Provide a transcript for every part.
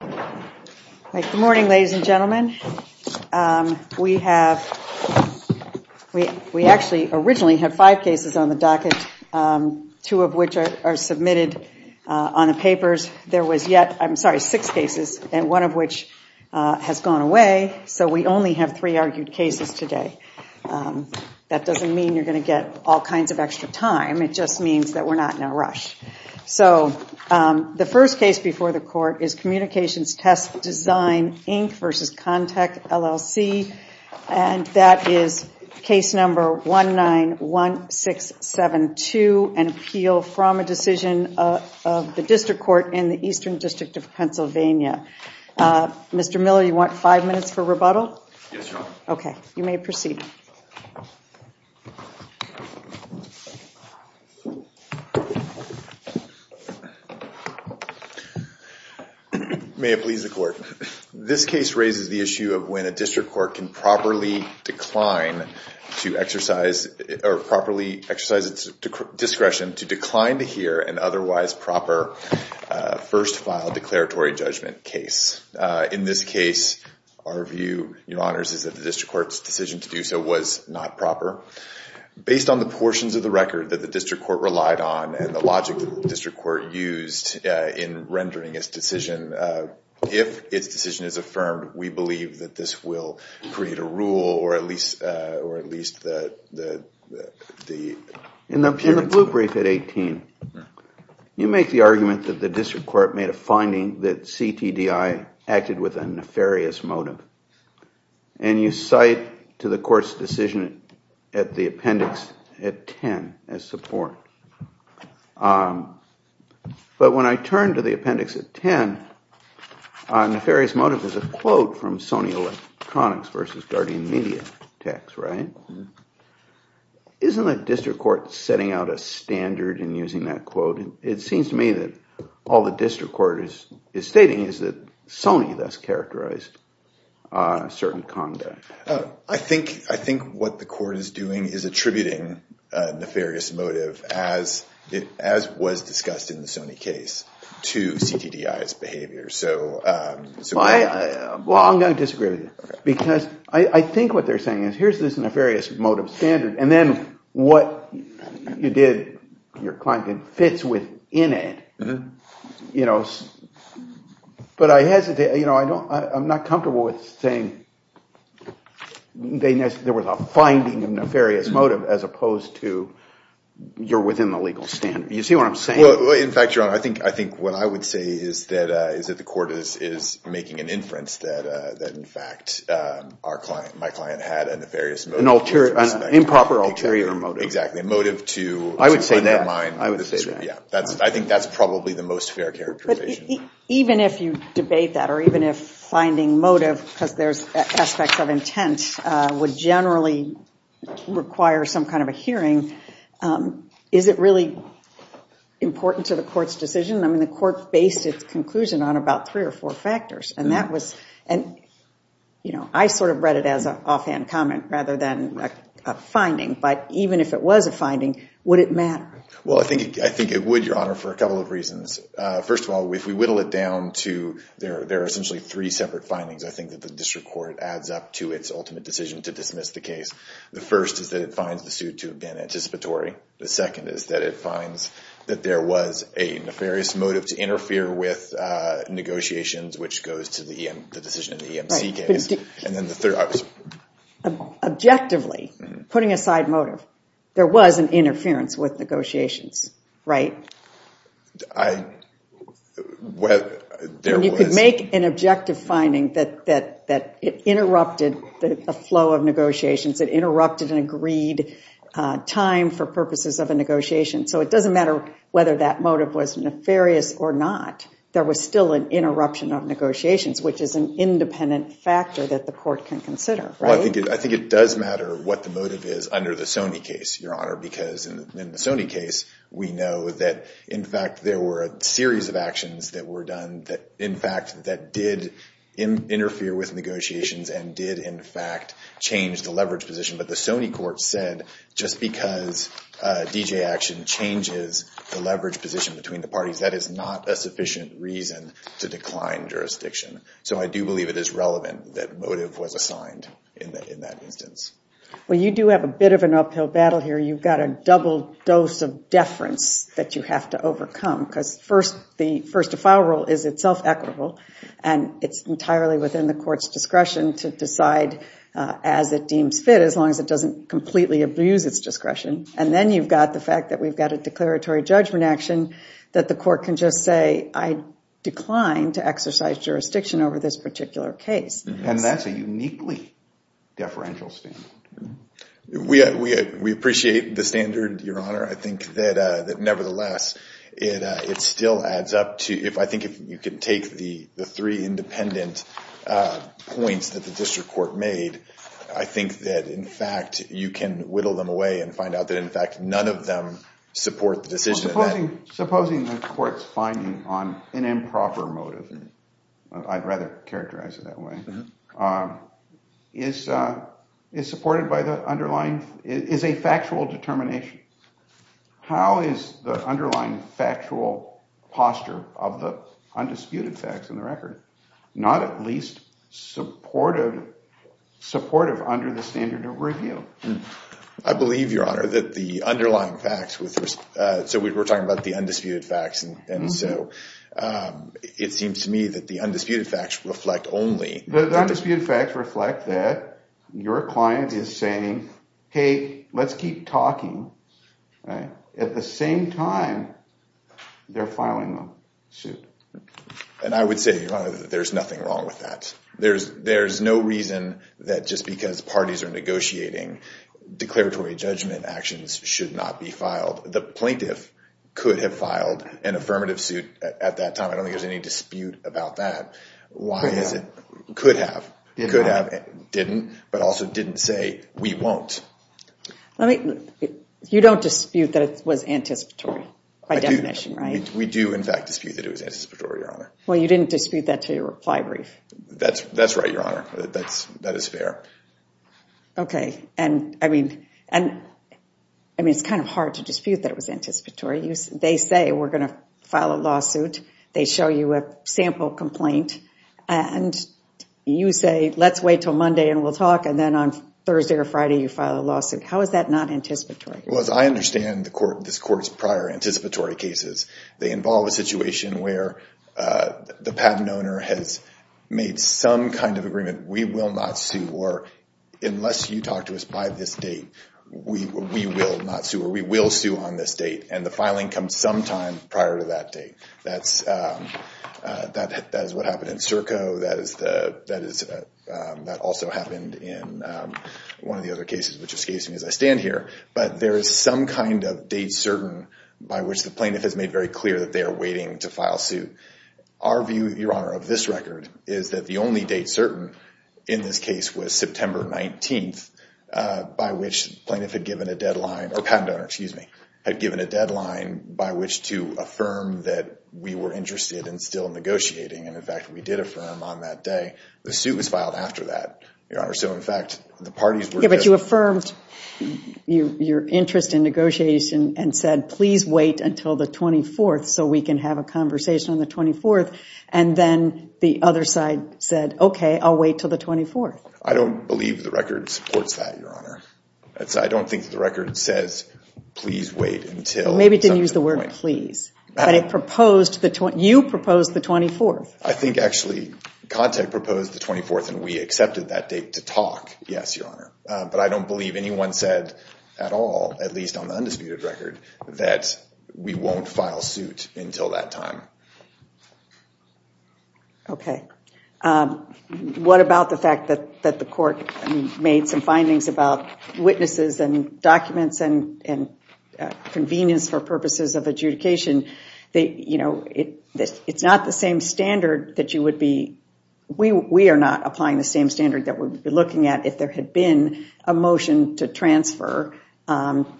Good morning, ladies and gentlemen. We actually originally had five cases on the docket, two of which are submitted on the papers. There were six cases and one of which has gone away, so we only have three argued cases today. That doesn't mean you're going to get all kinds of extra time, it just means that we're not in a rush. The first case before the court is Communications Test Design, Inc. v. Contec, LLC. That is case number 191672, an appeal from a decision of the District Court in the Eastern District of Pennsylvania. Mr. Miller, you want five minutes for rebuttal? Yes, Your Honor. Okay, you may proceed. May it please the Court. This case raises the issue of when a District Court can properly decline to exercise, or properly exercise its discretion to decline to hear an otherwise proper first file declaratory judgment case. In this case, our view, Your Honors, is that the District Court's decision to do so was not proper. Based on the portions of the record that the District Court relied on and the logic that the District Court used in rendering its decision, if its decision is affirmed, we believe that this will create a rule or at least the... In the blue brief at 18, you make the argument that the District Court made a finding that CTDI acted with a nefarious motive. And you cite to the Court's decision at the appendix at 10 as support. But when I turn to the appendix at 10, nefarious motive is a quote from Sony Electronics v. Guardian Media Techs, right? Isn't the District Court setting out a standard in using that quote? It seems to me that all the District Court is stating is that Sony thus characterized certain conduct. I think what the Court is doing is attributing nefarious motive, as was discussed in the Sony case, to CTDI's behavior. Well, I'm going to disagree with you because I think what they're saying is here's this nefarious motive standard, and then what you did to your client fits within it. But I hesitate. I'm not comfortable with saying there was a finding of nefarious motive as opposed to you're within the legal standard. You see what I'm saying? In fact, Your Honor, I think what I would say is that the Court is making an inference that, in fact, my client had a nefarious motive. An improper ulterior motive. Exactly. A motive to undermine. I would say that. I think that's probably the most fair characterization. Even if you debate that or even if finding motive, because there's aspects of intent, would generally require some kind of a hearing, is it really important to the Court's decision? I mean, the Court based its conclusion on about three or four factors. And I sort of read it as an offhand comment rather than a finding. But even if it was a finding, would it matter? Well, I think it would, Your Honor, for a couple of reasons. First of all, if we whittle it down to there are essentially three separate findings, I think that the District Court adds up to its ultimate decision to dismiss the case. The first is that it finds the suit to have been anticipatory. The second is that it finds that there was a nefarious motive to interfere with negotiations, which goes to the decision in the EMC case. Objectively, putting aside motive, there was an interference with negotiations, right? You could make an objective finding that it interrupted the flow of negotiations, it interrupted an agreed time for purposes of a negotiation. So it doesn't matter whether that motive was nefarious or not. There was still an interruption of negotiations, which is an independent factor that the Court can consider, right? Well, I think it does matter what the motive is under the Sony case, Your Honor, because in the Sony case, we know that, in fact, there were a series of actions that were done that, in fact, that did interfere with negotiations and did, in fact, change the leverage position. But the Sony court said just because a D.J. action changes the leverage position between the parties, that is not a sufficient reason to decline jurisdiction. So I do believe it is relevant that motive was assigned in that instance. Well, you do have a bit of an uphill battle here. You've got a double dose of deference that you have to overcome, because the first to file rule is itself equitable, and it's entirely within the Court's discretion to decide as it deems fit, as long as it doesn't completely abuse its discretion. And then you've got the fact that we've got a declaratory judgment action that the Court can just say, I decline to exercise jurisdiction over this particular case. And that's a uniquely deferential standard. We appreciate the standard, Your Honor. I think that, nevertheless, it still adds up to – I think if you can take the three independent points that the district court made, I think that, in fact, you can whittle them away and find out that, in fact, none of them support the decision. Supposing the Court's finding on an improper motive – I'd rather characterize it that way – is supported by the underlying – is a factual determination. How is the underlying factual posture of the undisputed facts in the record, I believe, Your Honor, that the underlying facts – so we're talking about the undisputed facts, and so it seems to me that the undisputed facts reflect only – The undisputed facts reflect that your client is saying, hey, let's keep talking. At the same time, they're filing a suit. And I would say, Your Honor, that there's nothing wrong with that. There's no reason that just because parties are negotiating declaratory judgment actions should not be filed. The plaintiff could have filed an affirmative suit at that time. I don't think there's any dispute about that. Why is it – could have. Could have. Didn't. But also didn't say, we won't. You don't dispute that it was anticipatory by definition, right? We do, in fact, dispute that it was anticipatory, Your Honor. Well, you didn't dispute that to your reply brief. That's right, Your Honor. That is fair. Okay. And, I mean, it's kind of hard to dispute that it was anticipatory. They say, we're going to file a lawsuit. They show you a sample complaint. And you say, let's wait until Monday and we'll talk, and then on Thursday or Friday you file a lawsuit. How is that not anticipatory? Well, as I understand this Court's prior anticipatory cases, they involve a situation where the patent owner has made some kind of agreement, we will not sue, or unless you talk to us by this date, we will not sue, or we will sue on this date, and the filing comes sometime prior to that date. That is what happened in Serco. That is – that also happened in one of the other cases, which escapes me as I stand here. But there is some kind of date certain by which the plaintiff has made very clear that they are waiting to file suit. Our view, Your Honor, of this record is that the only date certain in this case was September 19th, by which the plaintiff had given a deadline – or patent owner, excuse me – had given a deadline by which to affirm that we were interested in still negotiating. And, in fact, we did affirm on that day. The suit was filed after that, Your Honor. So, in fact, the parties were – affirmed your interest in negotiation and said, please wait until the 24th so we can have a conversation on the 24th, and then the other side said, okay, I'll wait until the 24th. I don't believe the record supports that, Your Honor. I don't think the record says, please wait until – Maybe it didn't use the word please. But it proposed – you proposed the 24th. I think, actually, Contact proposed the 24th, and we accepted that date to talk, yes, Your Honor. But I don't believe anyone said at all, at least on the undisputed record, that we won't file suit until that time. Okay. What about the fact that the court made some findings about witnesses and documents and convenience for purposes of adjudication? You know, it's not the same standard that you would be – to transfer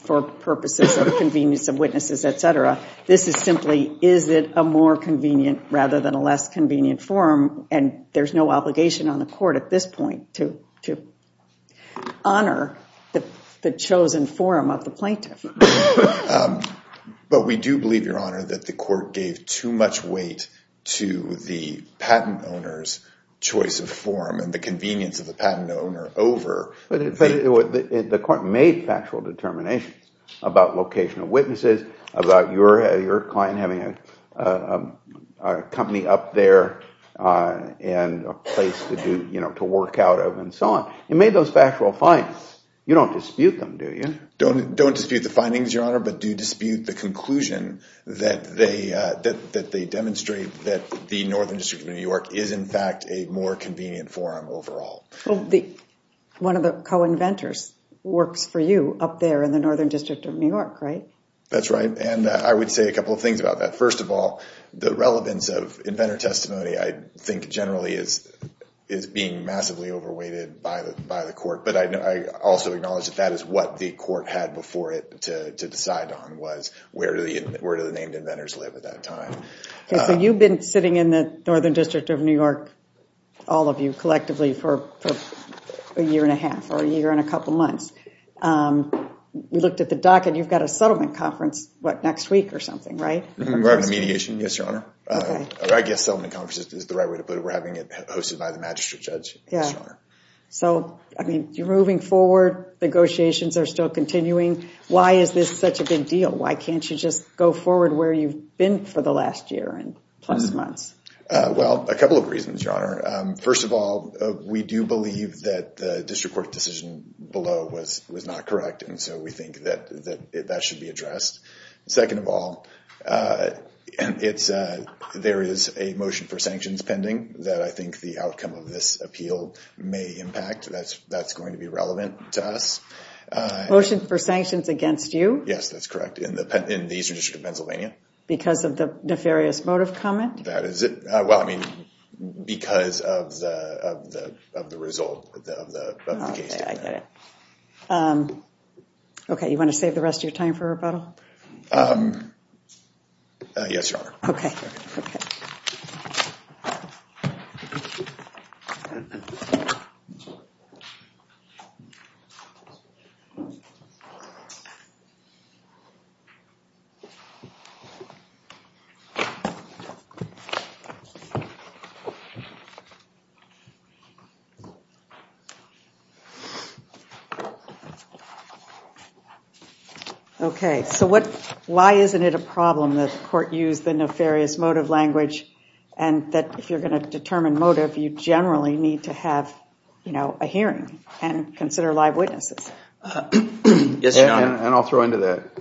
for purposes of convenience of witnesses, et cetera. This is simply, is it a more convenient rather than a less convenient forum? And there's no obligation on the court at this point to honor the chosen forum of the plaintiff. But we do believe, Your Honor, that the court gave too much weight to the patent owner's choice of forum and the convenience of the patent owner over – But the court made factual determinations about location of witnesses, about your client having a company up there and a place to do – you know, to work out of and so on. It made those factual findings. You don't dispute them, do you? Don't dispute the findings, Your Honor, but do dispute the conclusion that they – that they demonstrate that the Northern District of New York is, in fact, a more convenient forum overall. Well, one of the co-inventors works for you up there in the Northern District of New York, right? That's right. And I would say a couple of things about that. First of all, the relevance of inventor testimony I think generally is being massively overweighted by the court. But I also acknowledge that that is what the court had before it to decide on, was where do the named inventors live at that time. So you've been sitting in the Northern District of New York, all of you collectively, for a year and a half or a year and a couple months. We looked at the docket. You've got a settlement conference, what, next week or something, right? We're having a mediation, yes, Your Honor. I guess settlement conference is the right way to put it. We're having it hosted by the magistrate judge, yes, Your Honor. So, I mean, you're moving forward. Negotiations are still continuing. Why is this such a big deal? Why can't you just go forward where you've been for the last year and plus months? Well, a couple of reasons, Your Honor. First of all, we do believe that the district court decision below was not correct, and so we think that that should be addressed. Second of all, there is a motion for sanctions pending that I think the outcome of this appeal may impact. That's going to be relevant to us. Motion for sanctions against you? Yes, that's correct, in the Eastern District of Pennsylvania. Because of the nefarious motive comment? That is it. Well, I mean, because of the result of the case. Okay, I get it. Okay, you want to save the rest of your time for rebuttal? Yes, Your Honor. Okay. Thank you. Okay, so why isn't it a problem that the court used the nefarious motive language and that if you're going to determine motive, you generally need to have a hearing and consider live witnesses? Yes, Your Honor. And I'll throw into that.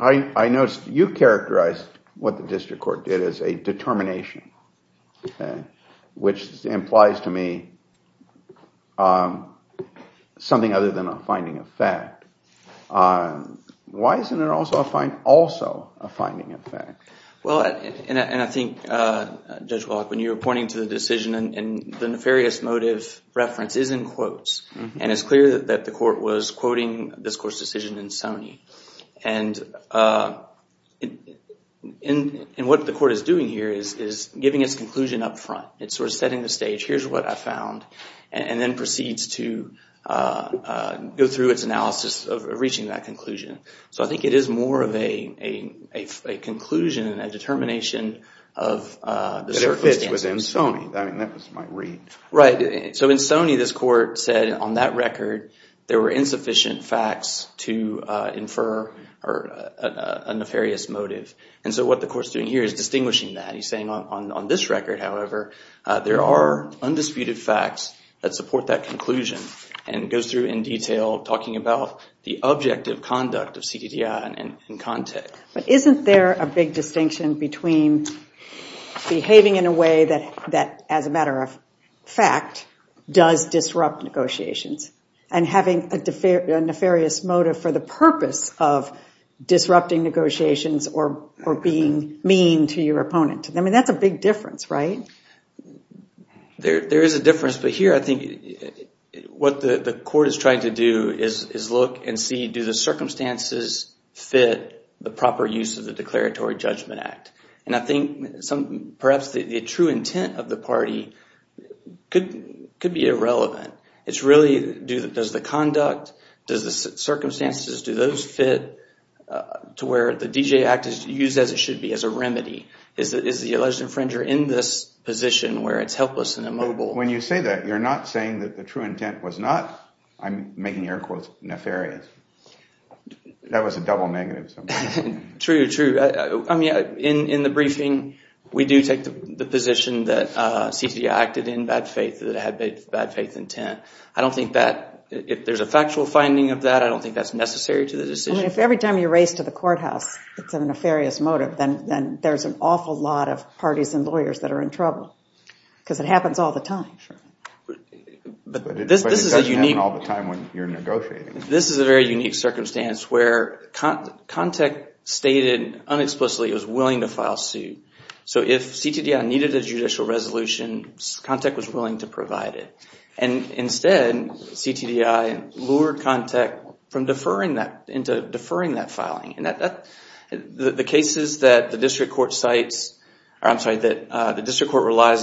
I noticed you characterized what the district court did as a determination, which implies to me something other than a finding of fact. Why isn't it also a finding of fact? Well, and I think, Judge Wallach, when you were pointing to the decision and the nefarious motive reference is in quotes, and it's clear that the court was quoting this court's decision in Sony. And what the court is doing here is giving its conclusion up front. It's sort of setting the stage, here's what I found, and then proceeds to go through its analysis of reaching that conclusion. So I think it is more of a conclusion, a determination of the circumstances. But it fits within Sony. I mean, that was my read. Right. So in Sony, this court said on that record, there were insufficient facts to infer a nefarious motive. And so what the court's doing here is distinguishing that. He's saying on this record, however, there are undisputed facts that support that conclusion and goes through in detail talking about the objective conduct of CTDI in context. But isn't there a big distinction between behaving in a way that, as a matter of fact, does disrupt negotiations and having a nefarious motive for the purpose of disrupting negotiations or being mean to your opponent? I mean, that's a big difference, right? There is a difference. Yes, but here I think what the court is trying to do is look and see do the circumstances fit the proper use of the Declaratory Judgment Act. And I think perhaps the true intent of the party could be irrelevant. It's really does the conduct, does the circumstances, do those fit to where the DJ Act is used as it should be as a remedy? Is the alleged infringer in this position where it's helpless and immobile? When you say that, you're not saying that the true intent was not, I'm making air quotes, nefarious. That was a double negative. True, true. I mean, in the briefing, we do take the position that CTDI acted in bad faith, that it had bad faith intent. I don't think that if there's a factual finding of that, I don't think that's necessary to the decision. I mean, if every time you race to the courthouse it's a nefarious motive, then there's an awful lot of parties and lawyers that are in trouble because it happens all the time. But it doesn't happen all the time when you're negotiating. This is a very unique circumstance where contact stated unexplicitly it was willing to file suit. So if CTDI needed a judicial resolution, contact was willing to provide it. And instead, CTDI lured contact into deferring that filing. The cases that the district court relies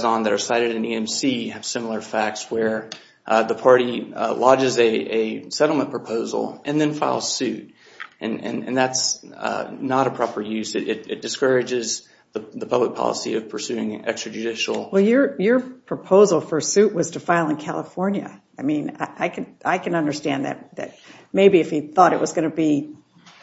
on that are cited in EMC have similar facts where the party lodges a settlement proposal and then files suit. And that's not a proper use. It discourages the public policy of pursuing extrajudicial. Well, your proposal for suit was to file in California. I mean, I can understand that. Maybe if he thought it was going to be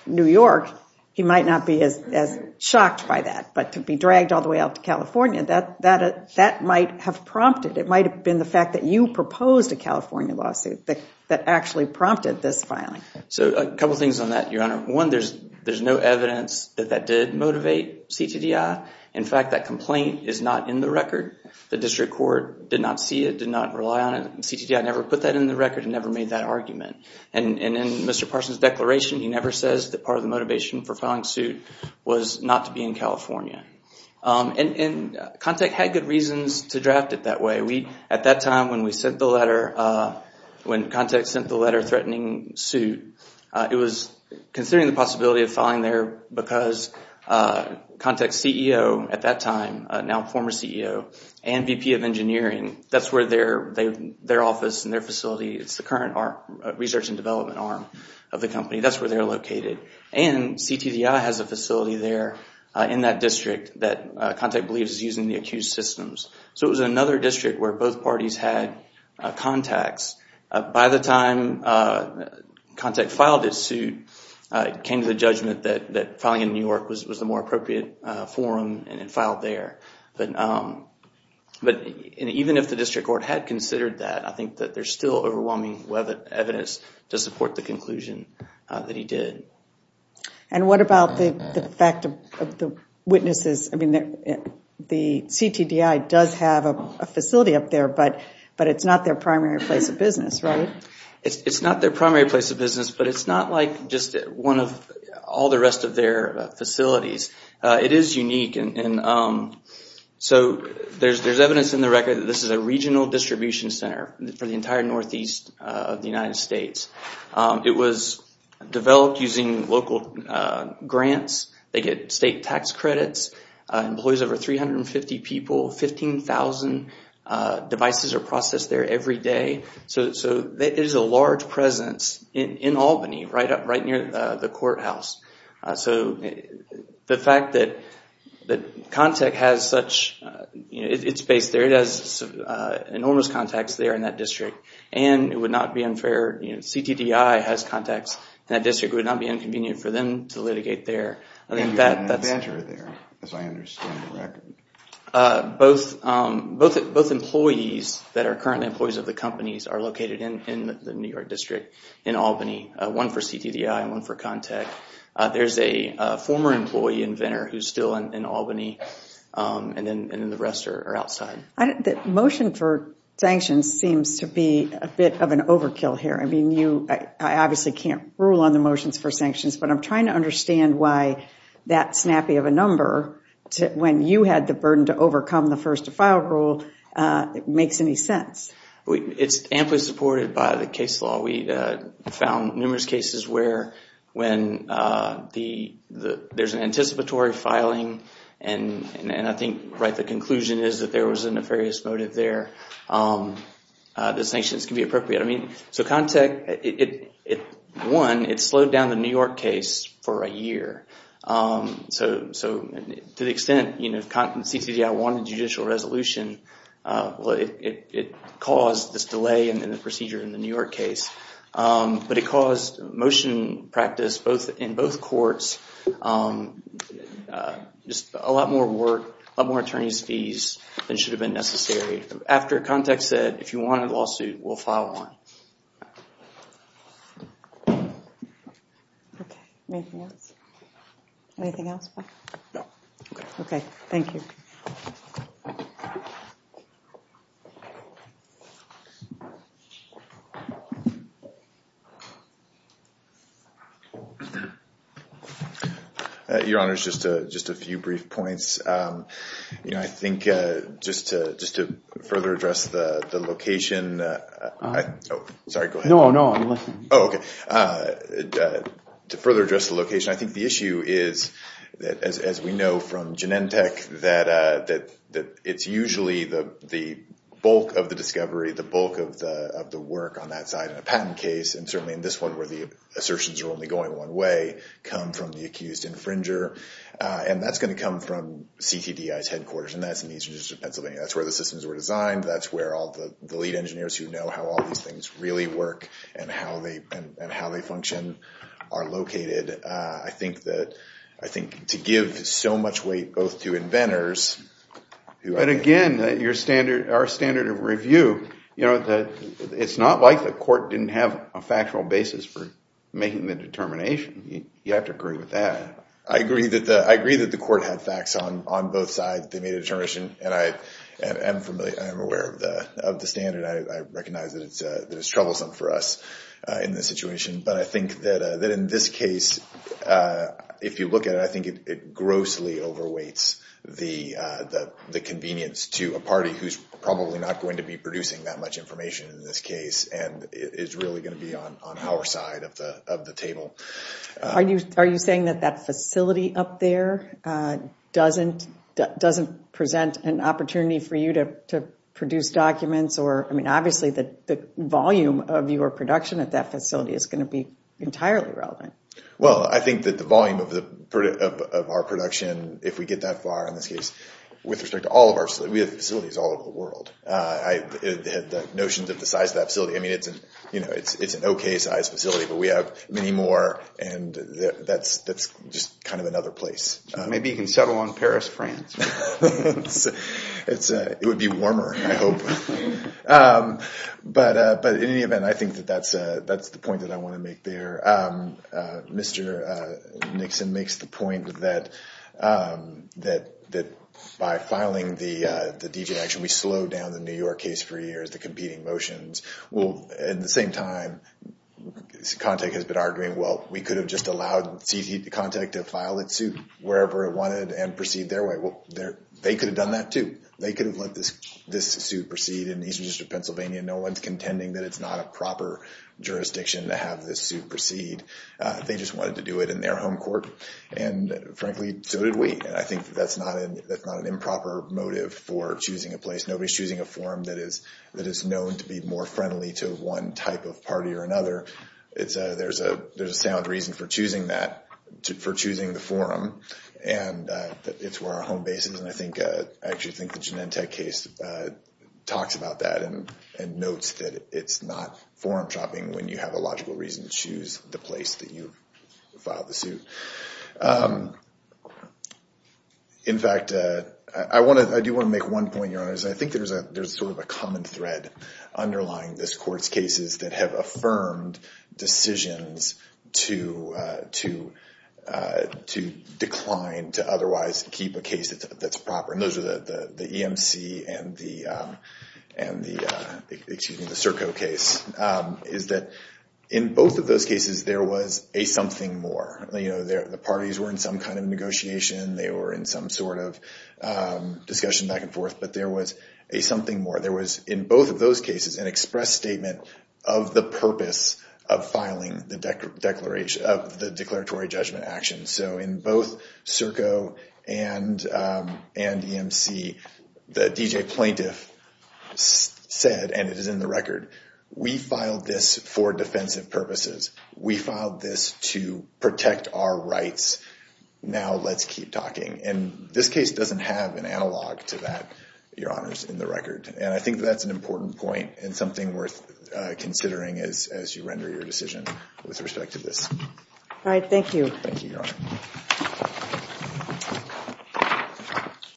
New York, he might not be as shocked by that. But to be dragged all the way out to California, that might have prompted. It might have been the fact that you proposed a California lawsuit that actually prompted this filing. So a couple things on that, Your Honor. One, there's no evidence that that did motivate CTDI. In fact, that complaint is not in the record. The district court did not see it, did not rely on it. CTDI never put that in the record and never made that argument. And in Mr. Parson's declaration, he never says that part of the motivation for filing suit was not to be in California. And Contact had good reasons to draft it that way. At that time, when we sent the letter, when Contact sent the letter threatening suit, it was considering the possibility of filing there because Contact's CEO at that time, now former CEO and VP of Engineering, that's where their office and their facility, it's the current research and development arm of the company, that's where they're located. And CTDI has a facility there in that district that Contact believes is using the accused systems. So it was another district where both parties had contacts. By the time Contact filed his suit, it came to the judgment that filing in New York was the more appropriate forum and it filed there. But even if the district court had considered that, I think that there's still overwhelming evidence to support the conclusion that he did. And what about the fact of the witnesses? I mean, the CTDI does have a facility up there, but it's not their primary place of business, right? It's not their primary place of business, but it's not like just one of all the rest of their facilities. It is unique. So there's evidence in the record that this is a regional distribution center for the entire northeast of the United States. It was developed using local grants. They get state tax credits, employs over 350 people, 15,000 devices are processed there every day. So there is a large presence in Albany, right near the courthouse. So the fact that Contact has such, it's based there, it has enormous contacts there in that district, and it would not be unfair, CTDI has contacts in that district, it would not be inconvenient for them to litigate there. And you have an adventurer there, as I understand the record. Both employees that are currently employees of the companies are located in the New York district in Albany, one for CTDI and one for Contact. There's a former employee inventor who's still in Albany, and then the rest are outside. The motion for sanctions seems to be a bit of an overkill here. I mean, I obviously can't rule on the motions for sanctions, but I'm trying to understand why that snappy of a number, when you had the burden to overcome the first to file rule, makes any sense. It's amply supported by the case law. We found numerous cases where when there's an anticipatory filing, and I think the conclusion is that there was a nefarious motive there, the sanctions can be appropriate. I mean, so Contact, one, it slowed down the New York case for a year. So to the extent CTDI wanted judicial resolution, it caused this delay in the procedure in the New York case. But it caused motion practice in both courts, just a lot more work, a lot more attorney's fees than should have been necessary. After Contact said, if you want a lawsuit, we'll file one. Okay. Anything else? Anything else, Bob? No. Okay. Thank you. Your Honors, just a few brief points. You know, I think just to further address the location. Sorry, go ahead. No, no, I'm listening. Oh, okay. To further address the location, I think the issue is, as we know from Genentech, that it's usually the bulk of the discovery, the bulk of the work on that side in a patent case, and certainly in this one where the assertions are only going one way, come from the accused infringer. And that's going to come from CTDI's headquarters, and that's in the Eastern District of Pennsylvania. That's where the systems were designed. That's where all the lead engineers who know how all these things really work and how they function are located. I think to give so much weight both to inventors. But, again, our standard of review, it's not like the court didn't have a factual basis for making the determination. You have to agree with that. I agree that the court had facts on both sides. They made a determination, and I am aware of the standard. I recognize that it's troublesome for us in this situation. But I think that in this case, if you look at it, I think it grossly overweights the convenience to a party who's probably not going to be producing that much information in this case and is really going to be on our side of the table. Are you saying that that facility up there doesn't present an opportunity for you to produce documents or, I mean, obviously the volume of your production at that facility is going to be entirely relevant? Well, I think that the volume of our production, if we get that far in this case, with respect to all of our facilities all over the world, the notions of the size of that facility, I mean, it's an okay-sized facility, but we have many more, and that's just kind of another place. Maybe you can settle on Paris, France. It would be warmer, I hope. But in any event, I think that that's the point that I want to make there. Mr. Nixon makes the point that by filing the degeneration, we slowed down the New York case for years, the competing motions. Well, at the same time, contact has been arguing, well, we could have just allowed CT contact to file its suit wherever it wanted and proceed their way. Well, they could have done that too. They could have let this suit proceed in the Eastern District of Pennsylvania. No one's contending that it's not a proper jurisdiction to have this suit proceed. They just wanted to do it in their home court, and frankly, so did we. And I think that's not an improper motive for choosing a place. Nobody's choosing a forum that is known to be more friendly to one type of party or another. There's a sound reason for choosing that, for choosing the forum. And it's where our home base is, and I actually think the Genentech case talks about that and notes that it's not forum shopping when you have a logical reason to choose the place that you filed the suit. In fact, I do want to make one point, Your Honors, and I think there's sort of a common thread underlying this court's cases that have affirmed decisions to decline to otherwise keep a case that's proper, and those are the EMC and the CERCO case, is that in both of those cases there was a something more. The parties were in some kind of negotiation. They were in some sort of discussion back and forth, but there was a something more. There was in both of those cases an express statement of the purpose of filing the declaratory judgment action. So in both CERCO and EMC, the DJ plaintiff said, and it is in the record, we filed this for defensive purposes. We filed this to protect our rights. Now let's keep talking. And this case doesn't have an analog to that, Your Honors, in the record. And I think that's an important point and something worth considering as you render your decision with respect to this. All right, thank you. Thank you, Your Honor.